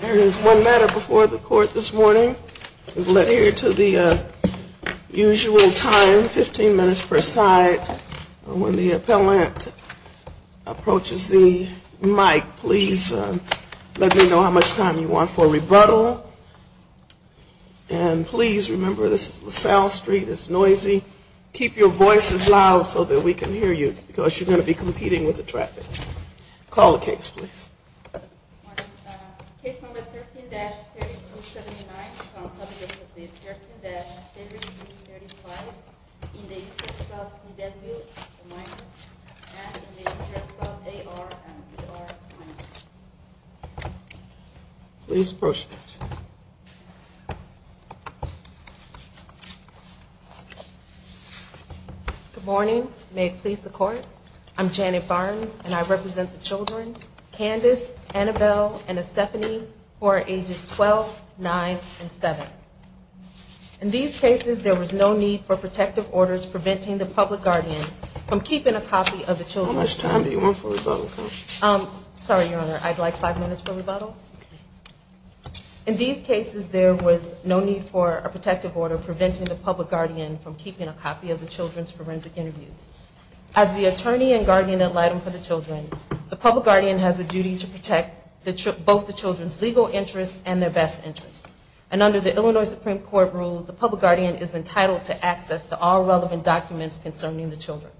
There is one matter before the court this morning. We've led here to the usual time, 15 minutes per side. When the appellant approaches the mic, please let me know how much time you want for rebuttal. And please remember, this is LaSalle Street. It's noisy. Keep your voices loud so that we can hear you because you're going to be competing with the traffic. Call the case, please. Case number 13-3279 is on subject of the 13-3275 in the interest of C.W. and in the interest of A.R. and B.R. Please approach the bench. Good morning. May it please the court. I'm Janet Barnes, and I represent the children Candise, Annabelle, and Estephanie who are ages 12, 9, and 7. In these cases, there was no need for protective orders preventing the public guardian from keeping a copy of the children's forensic interviews. How much time do you want for rebuttal? Sorry, Your Honor. I'd like five minutes for rebuttal. In these cases, there was no need for a protective order preventing the public guardian from keeping a copy of the children's forensic interviews. As the attorney and guardian ad litem for the children, the public guardian has a duty to protect both the children's legal interests and their best interests. And under the Illinois Supreme Court rules, the public guardian is entitled to access to all relevant documents concerning the children.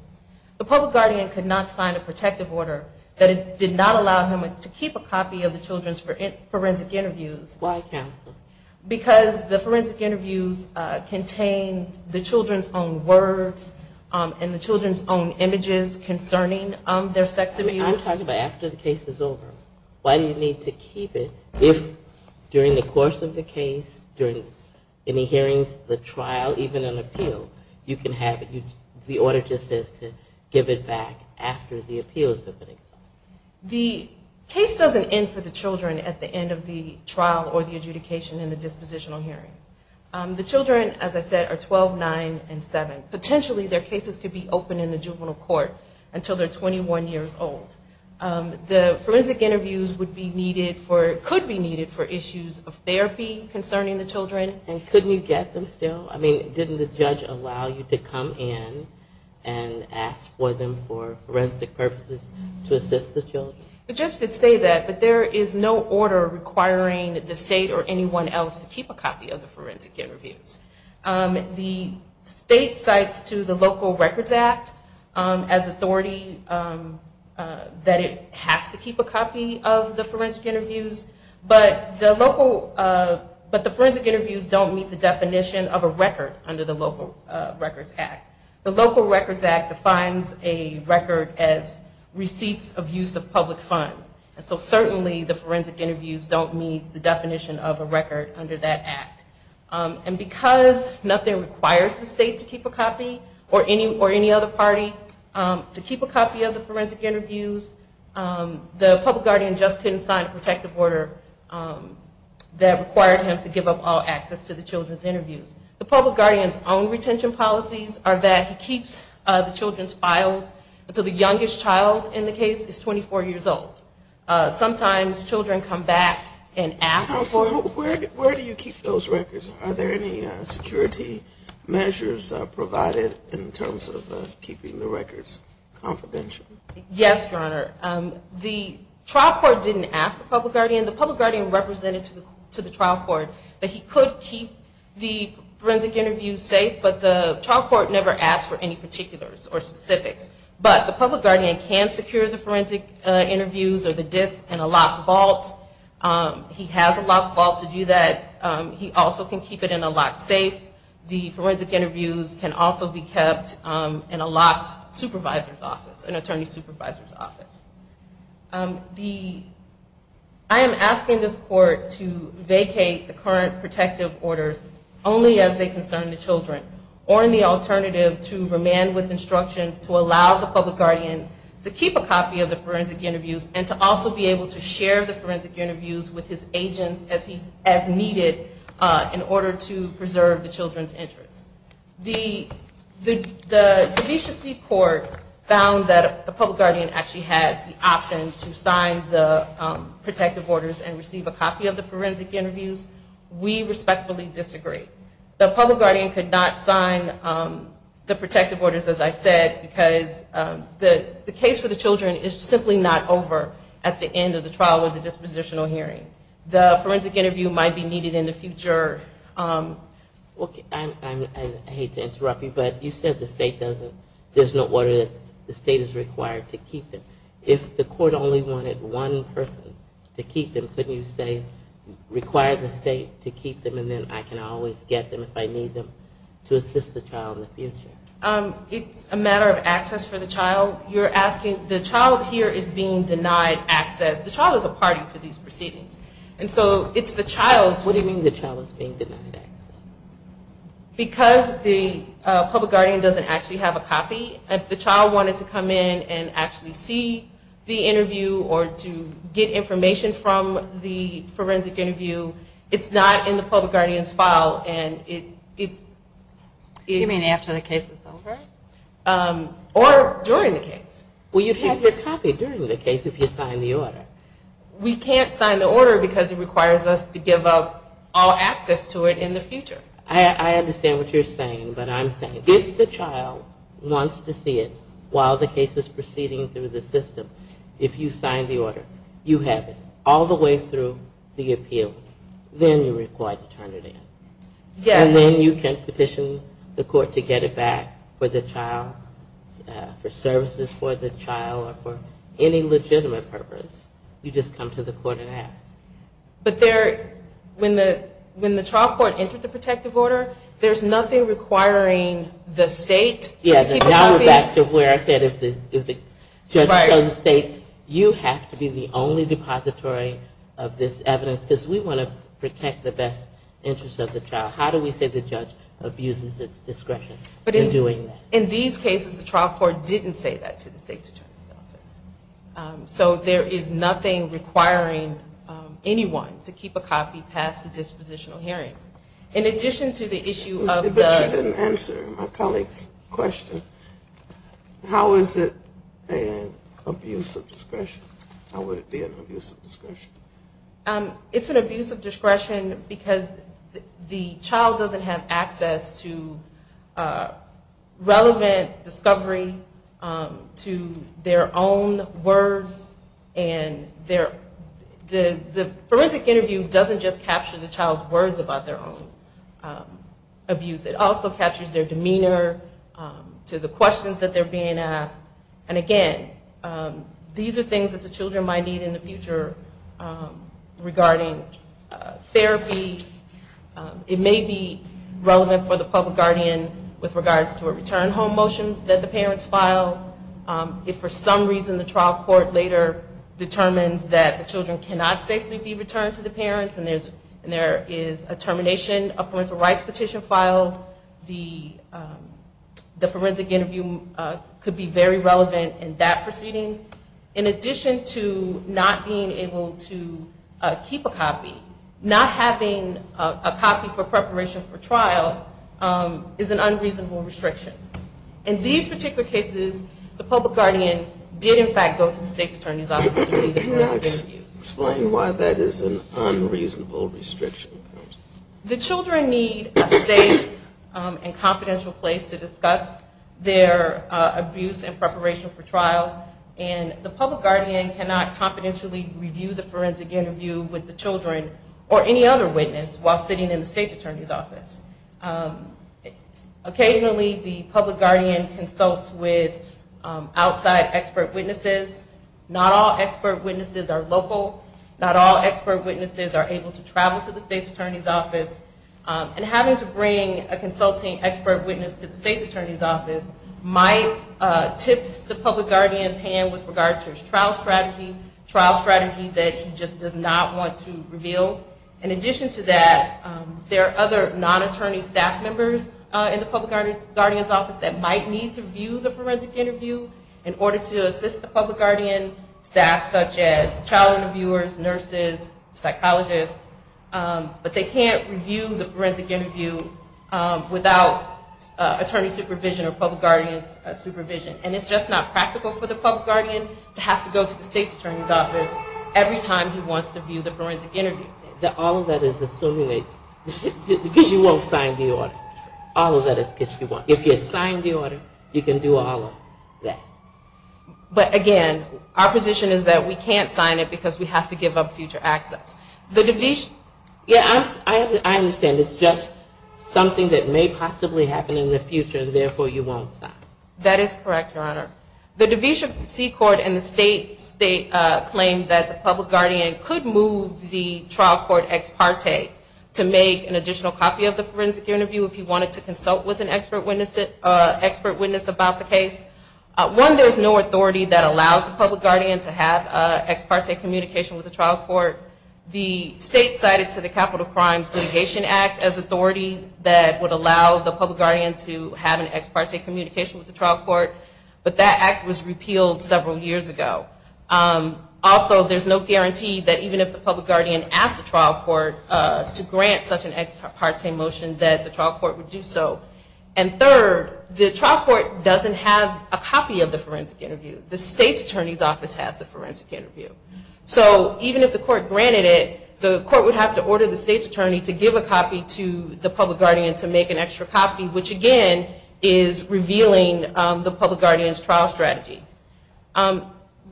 The public guardian could not sign a protective order that did not allow him to keep a copy of the children's forensic interviews. Why, counsel? Because the forensic interviews contained the children's own words and the children's own images concerning their sex abuse. I'm talking about after the case is over. Why do you need to keep it if during the course of the case, during any hearings, the trial, even an appeal, you can have it. The order just says to give it back after the appeals have been exhausted. The case doesn't end for the children at the end of the trial or the adjudication in the dispositional hearing. The children, as I said, are 12, 9, and 7. Potentially, their cases could be open in the juvenile court until they're 21 years old. The forensic interviews would be needed for, could be needed for issues of therapy concerning the children. And couldn't you get them still? I mean, didn't the judge allow you to come in and ask for them for forensic purposes to assist the children? The judge did say that, but there is no order requiring the state or anyone else to keep a copy of the forensic interviews. The state cites to the Local Records Act as authority that it has to keep a copy of the forensic interviews, but the local, but the forensic interviews don't meet the definition of a record under the Local Records Act. The Local Records Act defines a record as receipts of use of public funds. And so certainly the forensic interviews don't meet the definition of a record under that act. And because nothing requires the state to keep a copy or any other party to keep a copy of the forensic interviews, the public guardian just couldn't sign a protective order that required him to give up all access to the children's interviews. The public guardian's own retention policies are that he keeps the children's files until the youngest child in the case is 24 years old. Sometimes children come back and ask for them. Where do you keep those records? Are there any security measures provided in terms of keeping the records confidential? Yes, Your Honor. The trial court didn't ask the public guardian. The public guardian represented to the trial court that he could keep the forensic interviews safe, but the trial court never asked for any particulars or specifics. But the public guardian can secure the forensic interviews or the disks in a locked vault. He has a locked vault to do that. He also can keep it in a locked safe. The forensic interviews can also be kept in a locked supervisor's office, an attorney supervisor's office. I am asking this court to vacate the current protective orders only as they concern the children or in the alternative to remand with instructions to allow the public guardian to keep a copy of the forensic interviews and to also be able to share the forensic interviews with his agents as needed in order to preserve the children's interests. The DeVita C Court found that the public guardian actually had the option to sign the protective orders and receive a copy of the forensic interviews. We respectfully disagree. The public guardian could not sign the protective orders, as I said, because the case for the children is simply not over at the end of the trial or the dispositional hearing. The forensic interview might be needed in the future. I hate to interrupt you, but you said the state doesn't, there's no order that the state is required to keep them. If the court only wanted one person to keep them, couldn't you say require the state to keep them and then I can always get them if I need them to assist the child in the future? It's a matter of access for the child. You're asking, the child here is being denied access. The child is a party to these proceedings. And so it's the child. What do you mean the child is being denied access? Because the public guardian doesn't actually have a copy. If the child wanted to come in and actually see the interview or to get information from the forensic interview, it's not in the public guardian's file. You mean after the case is over? Or during the case. Well, you'd have your copy during the case if you signed the order. We can't sign the order because it requires us to give up all access to it in the future. I understand what you're saying, but I'm saying if the child wants to see it while the case is proceeding through the system, if you sign the order, you have it all the way through the appeal. Then you're required to turn it in. And then you can petition the court to get it back for the child, for services for the child, or for any legitimate purpose. You just come to the court and ask. But when the child court entered the protective order, there's nothing requiring the state? Now we're back to where I said if the judge tells the state, you have to be the only depository of this evidence, because we want to protect the best interest of the child. How do we say the judge abuses its discretion in doing that? In these cases, the trial court didn't say that to the state's attorney's office. So there is nothing requiring anyone to keep a copy past the dispositional hearings. In addition to the issue of the- But you didn't answer my colleague's question. How is it an abuse of discretion? How would it be an abuse of discretion? It's an abuse of discretion because the child doesn't have access to relevant discovery to their own words, and the forensic interview doesn't just capture the child's words about their own abuse. It also captures their demeanor to the questions that they're being asked. And again, these are things that the children might need in the future regarding therapy. It may be relevant for the public guardian with regards to a return home motion that the parents filed. If for some reason the trial court later determines that the children cannot safely be returned to the parents, and there is a termination of parental rights petition filed, the forensic interview could be very relevant in that proceeding. In addition to not being able to keep a copy, not having a copy for preparation for trial is an unreasonable restriction. In these particular cases, the public guardian did in fact go to the state attorney's office to review the forensic interview. Can you explain why that is an unreasonable restriction? The children need a safe and confidential place to discuss their abuse in preparation for trial, and the public guardian cannot confidentially review the forensic interview with the children or any other witness while sitting in the state attorney's office. Occasionally the public guardian consults with outside expert witnesses. Not all expert witnesses are local. Not all expert witnesses are able to travel to the state attorney's office. And having to bring a consulting expert witness to the state attorney's office might tip the public guardian's hand with regards to his trial strategy, trial strategy that he just does not want to reveal. In addition to that, there are other non-attorney staff members in the public guardian's office that might need to review the forensic interview in order to assist the public guardian staff, such as child interviewers, nurses, psychologists. But they can't review the forensic interview without attorney supervision or public guardian's supervision. And it's just not practical for the public guardian to have to go to the state attorney's office every time he wants to view the forensic interview. All of that is assuming that, because you won't sign the order. All of that is because you won't. If you sign the order, you can do all of that. But again, our position is that we can't sign it because we have to give up future access. Yeah, I understand. It's just something that may possibly happen in the future, and therefore you won't sign. That is correct, Your Honor. The DeVita C Court and the state claim that the public guardian could move the trial court ex parte to make an additional copy of the forensic interview if he wanted to consult with an expert witness about the case. One, there is no authority that allows the public guardian to have ex parte communication with the trial court. The state cited to the Capital Crimes Litigation Act as authority that would allow the public guardian to have an ex parte communication with the trial court, but that act was repealed several years ago. Also, there's no guarantee that even if the public guardian asked the trial court to grant such an ex parte motion, that the trial court would do so. And third, the trial court doesn't have a copy of the forensic interview. The state's attorney's office has the forensic interview. So even if the court granted it, the court would have to order the state's attorney to give a copy to the public guardian to make an extra copy, which again is revealing the public guardian's trial strategy.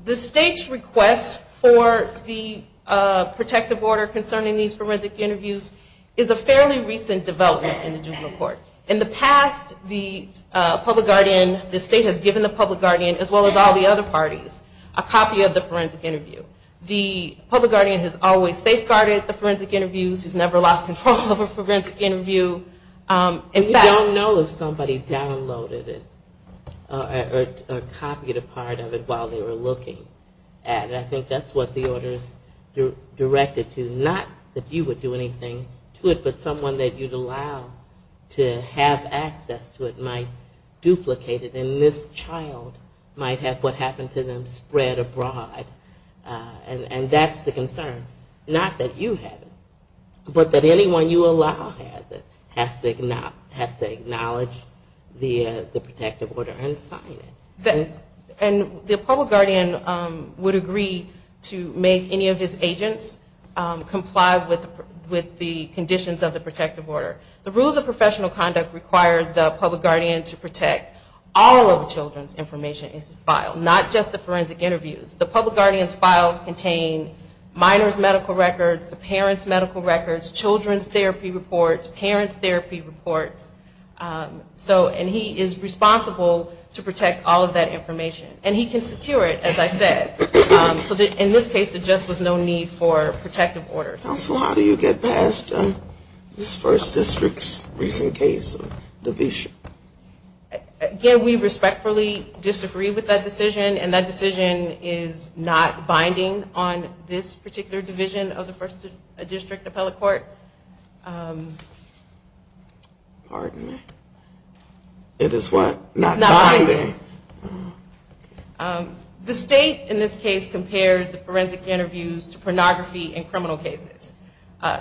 The state's request for the protective order concerning these forensic interviews is a fairly recent development in the juvenile court. In the past, the public guardian, the state has given the public guardian, as well as all the other parties, a copy of the forensic interview. The public guardian has always safeguarded the forensic interviews. He's never lost control of a forensic interview. In fact... You don't know if somebody downloaded it or copied a part of it while they were looking at it. I think that's what the order's directed to. Not that you would do anything to it, but someone that you'd allow to have access to it might duplicate it. And this child might have what happened to them spread abroad. And that's the concern. Not that you have it, but that anyone you allow has it has to acknowledge the protective order and sign it. And the public guardian would agree to make any of his agents comply with the conditions of the protective order. The rules of professional conduct require the public guardian to protect all of the children's information in his file, not just the forensic interviews. The public guardian's files contain minors' medical records, the parents' medical records, children's therapy reports, parents' therapy reports. And he is responsible to protect all of that information. And he can secure it, as I said. So in this case, there just was no need for protective orders. Counsel, how do you get past this First District's recent case of division? Again, we respectfully disagree with that decision. And that decision is not binding on this particular division of the First District Appellate Court. Pardon me. It is what? It's not binding. The state in this case compares the forensic interviews to pornography in criminal cases.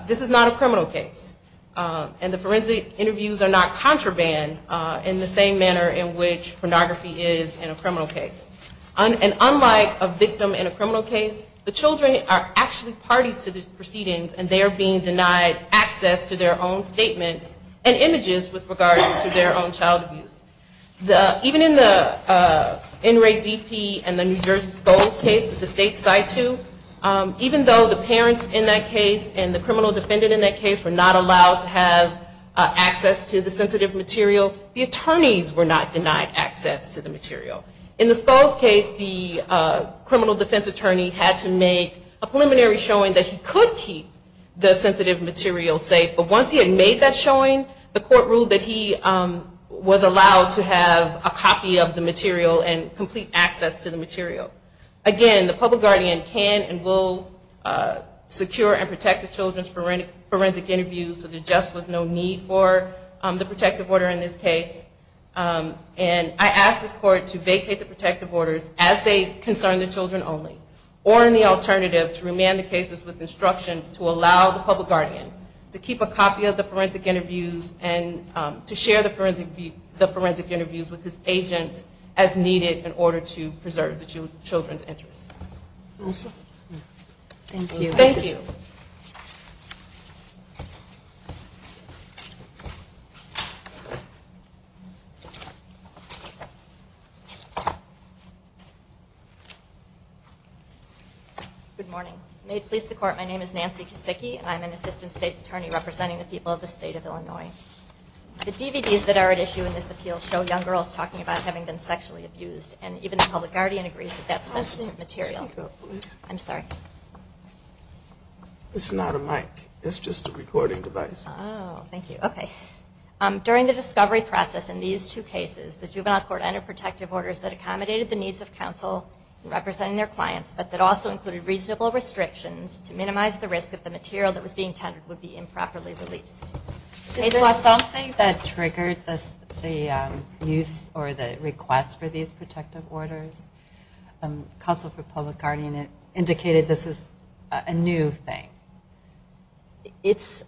This is not a criminal case. And the forensic interviews are not contraband in the same manner in which pornography is in a criminal case. And unlike a victim in a criminal case, the children are actually parties to these proceedings, and they are being denied access to their own statements and images with regards to their own child abuse. Even in the NRA DP and the New Jersey Sculls case that the state side to, even though the parents in that case and the criminal defendant in that case were not allowed to have access to the sensitive material, the attorneys were not denied access to the material. In the Sculls case, the criminal defense attorney had to make a preliminary showing that he could keep the sensitive material safe. But once he had made that showing, the court ruled that he was allowed to have a copy of the material and complete access to the material. Again, the public guardian can and will secure and protect the children's forensic interviews, so there just was no need for the protective order in this case. And I ask this court to vacate the protective orders as they concern the children only, or in the alternative, to remand the cases with instructions to allow the public guardian to keep a copy of the forensic interviews and to share the forensic interviews with his agent as needed in order to preserve the children's interests. Thank you. Good morning. May it please the court, my name is Nancy Kosicki, and I'm an assistant state attorney representing the people of the state of Illinois. The DVDs that are at issue in this appeal show young girls talking about having been sexually abused, and even the public guardian agrees that that's sensitive material. I'm sorry. It's not a mic. It's just a recording device. Oh, thank you. Okay. During the discovery process in these two cases, the juvenile court entered protective orders that accommodated the needs of counsel representing their clients, but that also included reasonable restrictions to minimize the risk that the material that was being tendered would be improperly released. Is there something that triggered the use or the request for these protective orders? Counsel for public guardian indicated this is a new thing. It's,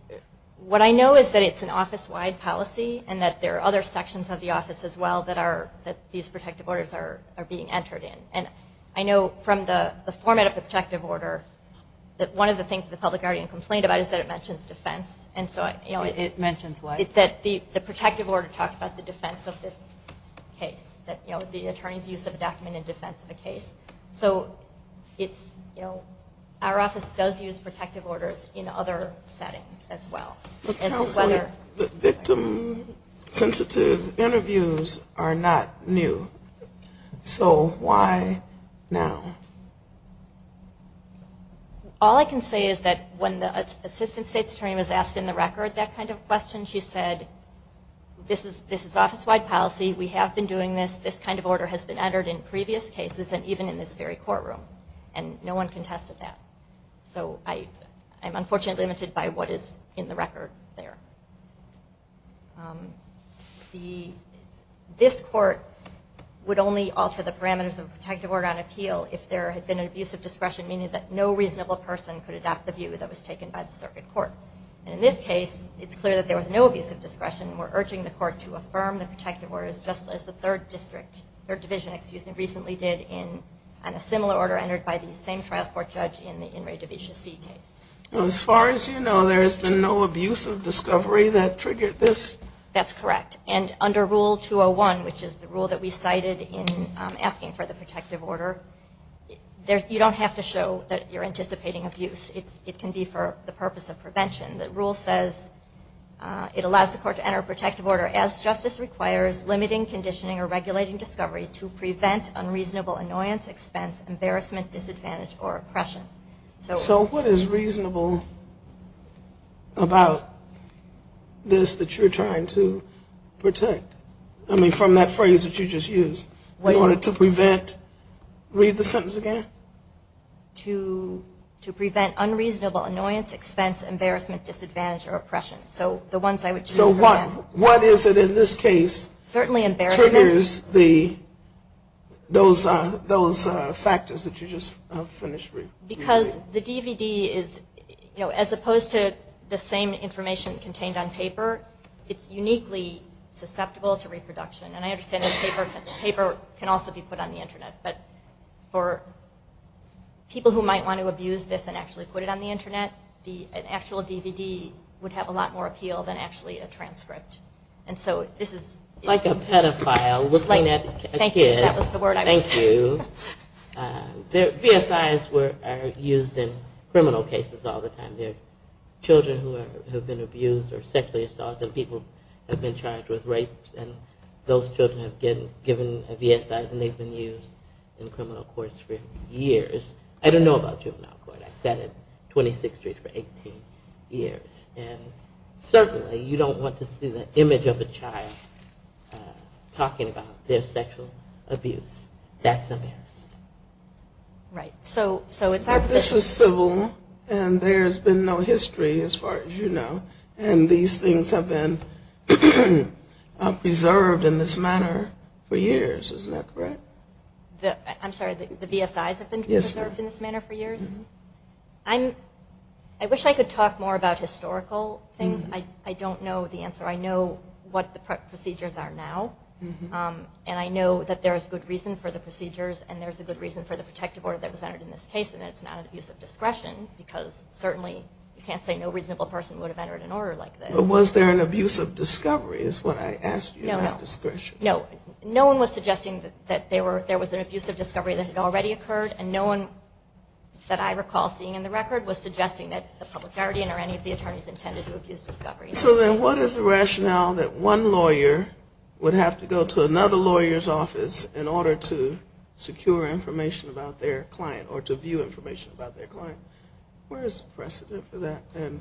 what I know is that it's an office-wide policy, and that there are other sections of the office as well that are, that these protective orders are being entered in. And I know from the format of the protective order that one of the things that the public guardian complained about is that it mentions defense. It mentions what? That the protective order talks about the defense of this case, that the attorney's use of a document in defense of a case. So it's, you know, our office does use protective orders in other settings as well. Counsel, the victim-sensitive interviews are not new. So why now? All I can say is that when the assistant state's attorney was asked in the record that kind of question, she said, this is office-wide policy. We have been doing this. This kind of order has been entered in previous cases and even in this very courtroom. And no one contested that. So I'm unfortunately limited by what is in the record there. The, this court would only alter the parameters of a protective order on appeal if there had been an abusive discretion, meaning that no reasonable person could adopt the view that was taken by the circuit court. And in this case, it's clear that there was no abusive discretion. We're urging the court to affirm the protective orders just as the third district, third division, excuse me, recently did in a similar order entered by the same trial court judge in the In re Divicia C case. As far as you know, there has been no abusive discovery that triggered this? That's correct. And under Rule 201, which is the rule that we cited in asking for the protective order, you don't have to show that you're anticipating abuse. It can be for the purpose of prevention. The rule says it allows the court to enter a protective order as justice requires limiting, conditioning, or regulating discovery to prevent unreasonable annoyance, expense, embarrassment, disadvantage, or oppression. So what is reasonable about this that you're trying to protect? I mean, from that phrase that you just used, in order to prevent, read the sentence again? To prevent unreasonable annoyance, expense, embarrassment, disadvantage, or oppression. So the ones I would choose. So what is it in this case? Certainly embarrassment. To use those factors that you just finished. Because the DVD is, you know, as opposed to the same information contained on paper, it's uniquely susceptible to reproduction. And I understand that paper can also be put on the Internet. But for people who might want to abuse this and actually put it on the Internet, Like a pedophile looking at a kid. Thank you. VSIs are used in criminal cases all the time. They're children who have been abused or sexually assaulted. People have been charged with rapes, and those children have been given a VSI, and they've been used in criminal courts for years. I don't know about juvenile court. I sat at 26th Street for 18 years. And certainly you don't want to see the image of a child talking about their sexual abuse. That's embarrassing. Right. So it's our position. But this is civil, and there's been no history as far as you know, and these things have been preserved in this manner for years. Isn't that correct? I'm sorry, the VSIs have been preserved in this manner for years? I wish I could talk more about historical things. I don't know the answer. I know what the procedures are now, and I know that there is good reason for the procedures and there's a good reason for the protective order that was entered in this case, and it's not an abuse of discretion, because certainly you can't say no reasonable person would have entered an order like this. But was there an abuse of discovery is what I asked you, not discretion. No, no. No one was suggesting that there was an abuse of discovery that had already occurred, and no one that I recall seeing in the record was suggesting that the public guardian or any of the attorneys intended to abuse discovery. So then what is the rationale that one lawyer would have to go to another lawyer's office in order to secure information about their client or to view information about their client? Where is the precedent for that, and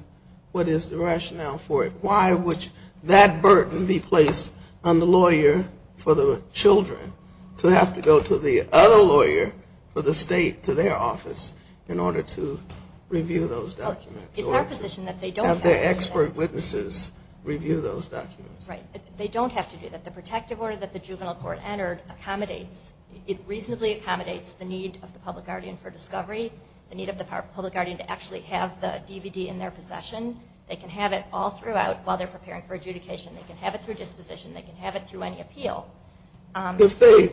what is the rationale for it? Why would that burden be placed on the lawyer for the children to have to go to the other lawyer for the state to their office in order to review those documents or have their expert witnesses review those documents? Right. They don't have to do that. The protective order that the juvenile court entered accommodates, it reasonably accommodates the need of the public guardian for discovery, the need of the public guardian to actually have the DVD in their possession. They can have it all throughout while they're preparing for adjudication. They can have it through disposition. They can have it through any appeal. If they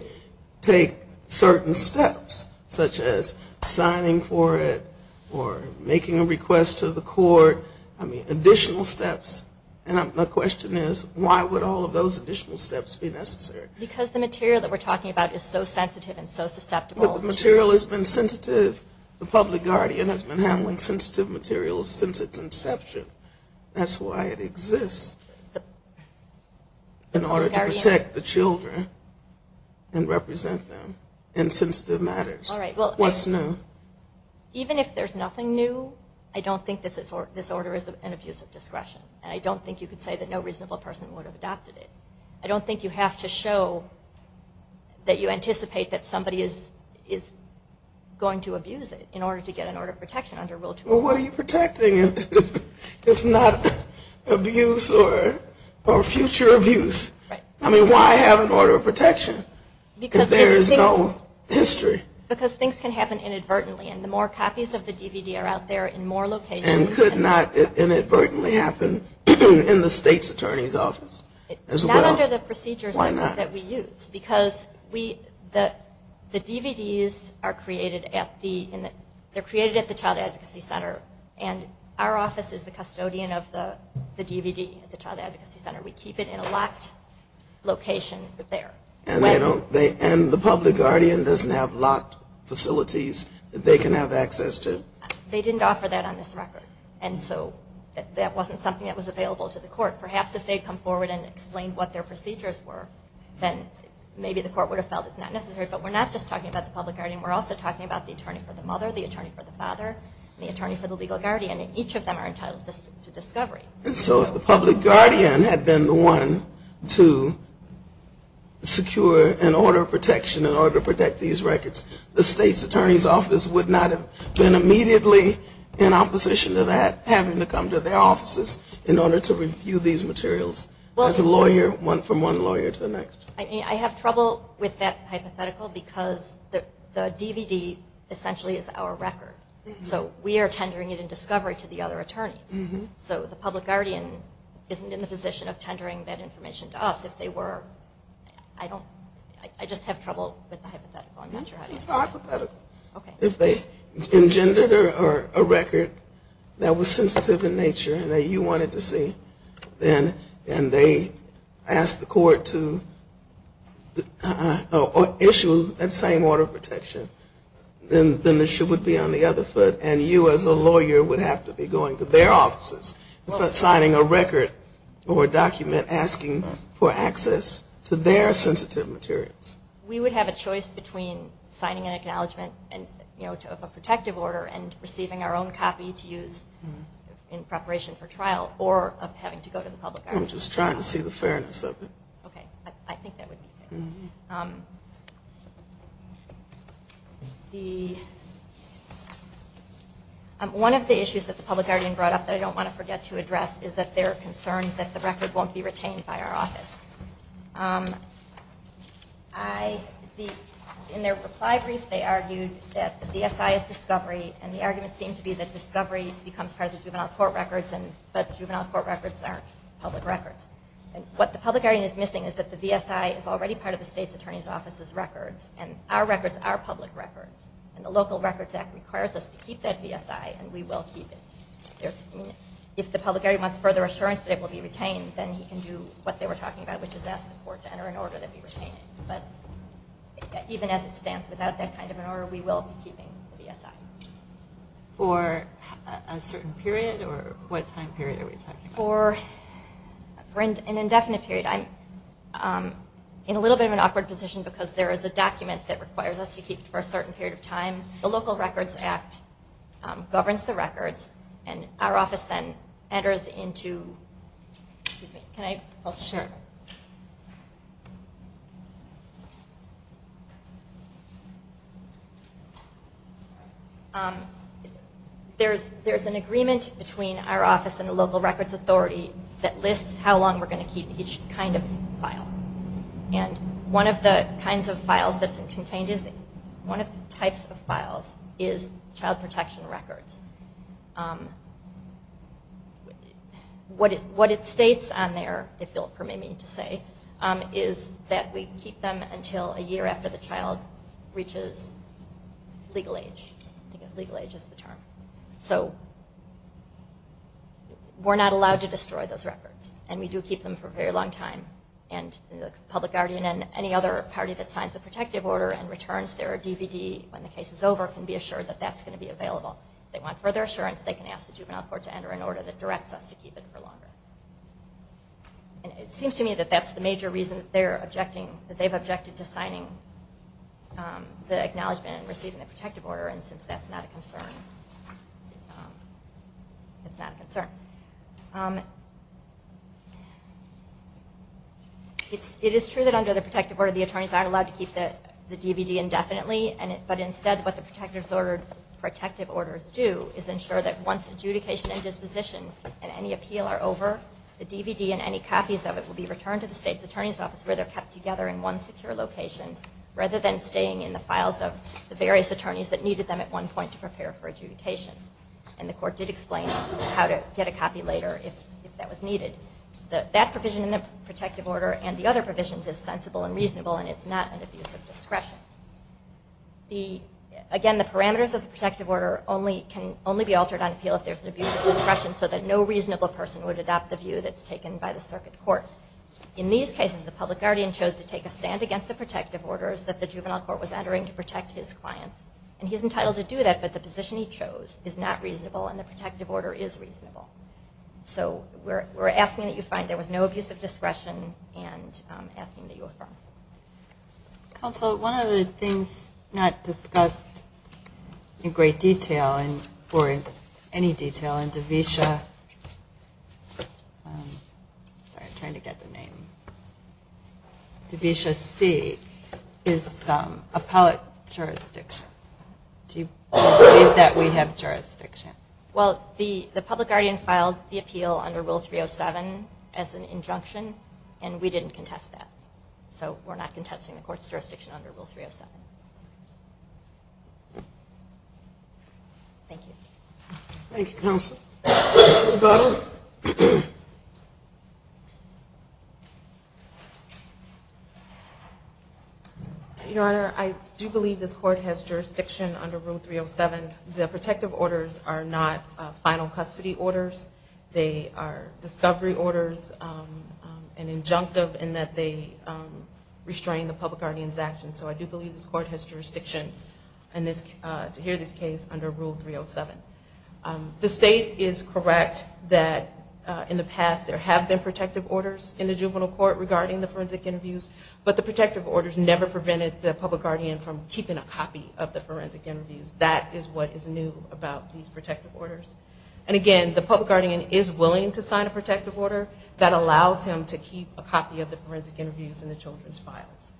take certain steps such as signing for it or making a request to the court, I mean additional steps, the question is why would all of those additional steps be necessary? Because the material that we're talking about is so sensitive and so susceptible. But the material has been sensitive. The public guardian has been handling sensitive materials since its inception. That's why it exists in order to protect the children and represent them in sensitive matters. All right. What's new? Even if there's nothing new, I don't think this order is an abuse of discretion. I don't think you could say that no reasonable person would have adopted it. I don't think you have to show that you anticipate that somebody is going to abuse it in order to get an order of protection under Rule 21. Well, what are you protecting if not abuse or future abuse? Right. I mean why have an order of protection if there is no history? Because things can happen inadvertently. And the more copies of the DVD are out there in more locations. And could not inadvertently happen in the state's attorney's office as well. Not under the procedures that we use. Why not? Because the DVDs are created at the Child Advocacy Center. And our office is the custodian of the DVD at the Child Advocacy Center. We keep it in a locked location there. And the public guardian doesn't have locked facilities that they can have access to? They didn't offer that on this record. And so that wasn't something that was available to the court. Perhaps if they had come forward and explained what their procedures were, then maybe the court would have felt it's not necessary. But we're not just talking about the public guardian. We're also talking about the attorney for the mother, the attorney for the father, and the attorney for the legal guardian. And each of them are entitled to discovery. And so if the public guardian had been the one to secure an order of protection in order to protect these records, the state's attorney's office would not have been immediately in opposition to that, in order to review these materials as a lawyer from one lawyer to the next. I have trouble with that hypothetical because the DVD essentially is our record. So we are tendering it in discovery to the other attorneys. So the public guardian isn't in the position of tendering that information to us. If they were, I just have trouble with the hypothetical. If they engendered a record that was sensitive in nature and that you wanted to see and they asked the court to issue that same order of protection, then the issue would be on the other foot and you as a lawyer would have to be going to their offices and signing a record or a document asking for access to their sensitive materials. We would have a choice between signing an acknowledgement of a protective order and receiving our own copy to use in preparation for trial or of having to go to the public guardian. I'm just trying to see the fairness of it. Okay. I think that would be fair. One of the issues that the public guardian brought up that I don't want to forget to address is that they're concerned that the record won't be retained by our office. In their reply brief, they argued that the VSI is discovery and the argument seemed to be that discovery becomes part of the juvenile court records but juvenile court records aren't public records. What the public guardian is missing is that the VSI is already part of the state's attorney's office's records and our records are public records and the Local Records Act requires us to keep that VSI and we will keep it. If the public guardian wants further assurance that it will be retained, then he can do what they were talking about, which is ask the court to enter an order that we retain it. But even as it stands, without that kind of an order, we will be keeping the VSI. For a certain period or what time period are we talking about? For an indefinite period. I'm in a little bit of an awkward position because there is a document that requires us to keep it for a certain period of time. The Local Records Act governs the records and our office then enters into... There's an agreement between our office and the local records authority that lists how long we're going to keep each kind of file. And one of the kinds of files that's contained is... What it states on there, if you'll permit me to say, is that we keep them until a year after the child reaches legal age. I think legal age is the term. So we're not allowed to destroy those records and we do keep them for a very long time and the public guardian and any other party that signs the protective order and returns their DVD when the case is over can be assured that that's going to be available. If they want further assurance, they can ask the juvenile court to enter an order that directs us to keep it for longer. And it seems to me that that's the major reason that they've objected to signing the acknowledgement and receiving the protective order and since that's not a concern, it's not a concern. It is true that under the protective order the attorneys aren't allowed to keep the DVD indefinitely but instead what the protective orders do is ensure that once adjudication and disposition and any appeal are over, the DVD and any copies of it will be returned to the state's attorney's office where they're kept together in one secure location rather than staying in the files of the various attorneys that needed them at one point to prepare for adjudication. And the court did explain how to get a copy later if that was needed. That provision in the protective order and the other provisions is sensible and reasonable and it's not an abuse of discretion. Again, the parameters of the protective order can only be altered on appeal if there's an abuse of discretion so that no reasonable person would adopt the view that's taken by the circuit court. In these cases, the public guardian chose to take a stand against the protective orders that the juvenile court was entering to protect his clients. And he's entitled to do that but the position he chose is not reasonable and the protective order is reasonable. So we're asking that you find there was no abuse of discretion and asking that you affirm. Counsel, one of the things not discussed in great detail, or in any detail, in DeVita C is appellate jurisdiction. Do you believe that we have jurisdiction? Well, the public guardian filed the appeal under Rule 307 as an injunction and we didn't contest that. So we're not contesting the court's jurisdiction under Rule 307. Thank you. Thank you, Counsel. Governor? Your Honor, I do believe this court has jurisdiction under Rule 307. The protective orders are not final custody orders. They are discovery orders, an injunctive in that they restrain the public guardian's actions. So I do believe this court has jurisdiction to hear this case under Rule 307. The state is correct that in the past there have been protective orders in the juvenile court regarding the forensic interviews, but the protective orders never prevented the public guardian from keeping a copy of the forensic interviews. That is what is new about these protective orders. And, again, the public guardian is willing to sign a protective order that allows him to keep a copy of the forensic interviews in the children's files.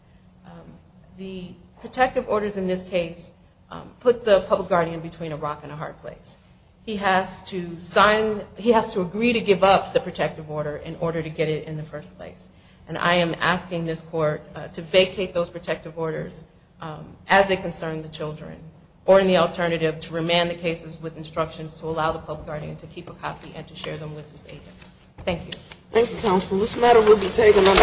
The protective orders in this case put the public guardian between a rock and a hard place. He has to agree to give up the protective order in order to get it in the first place. And I am asking this court to vacate those protective orders as they concern the children or, in the alternative, to remand the cases with instructions to allow the public guardian to keep a copy and to share them with his agents. Thank you. Thank you, counsel. This matter will be taken under advisement.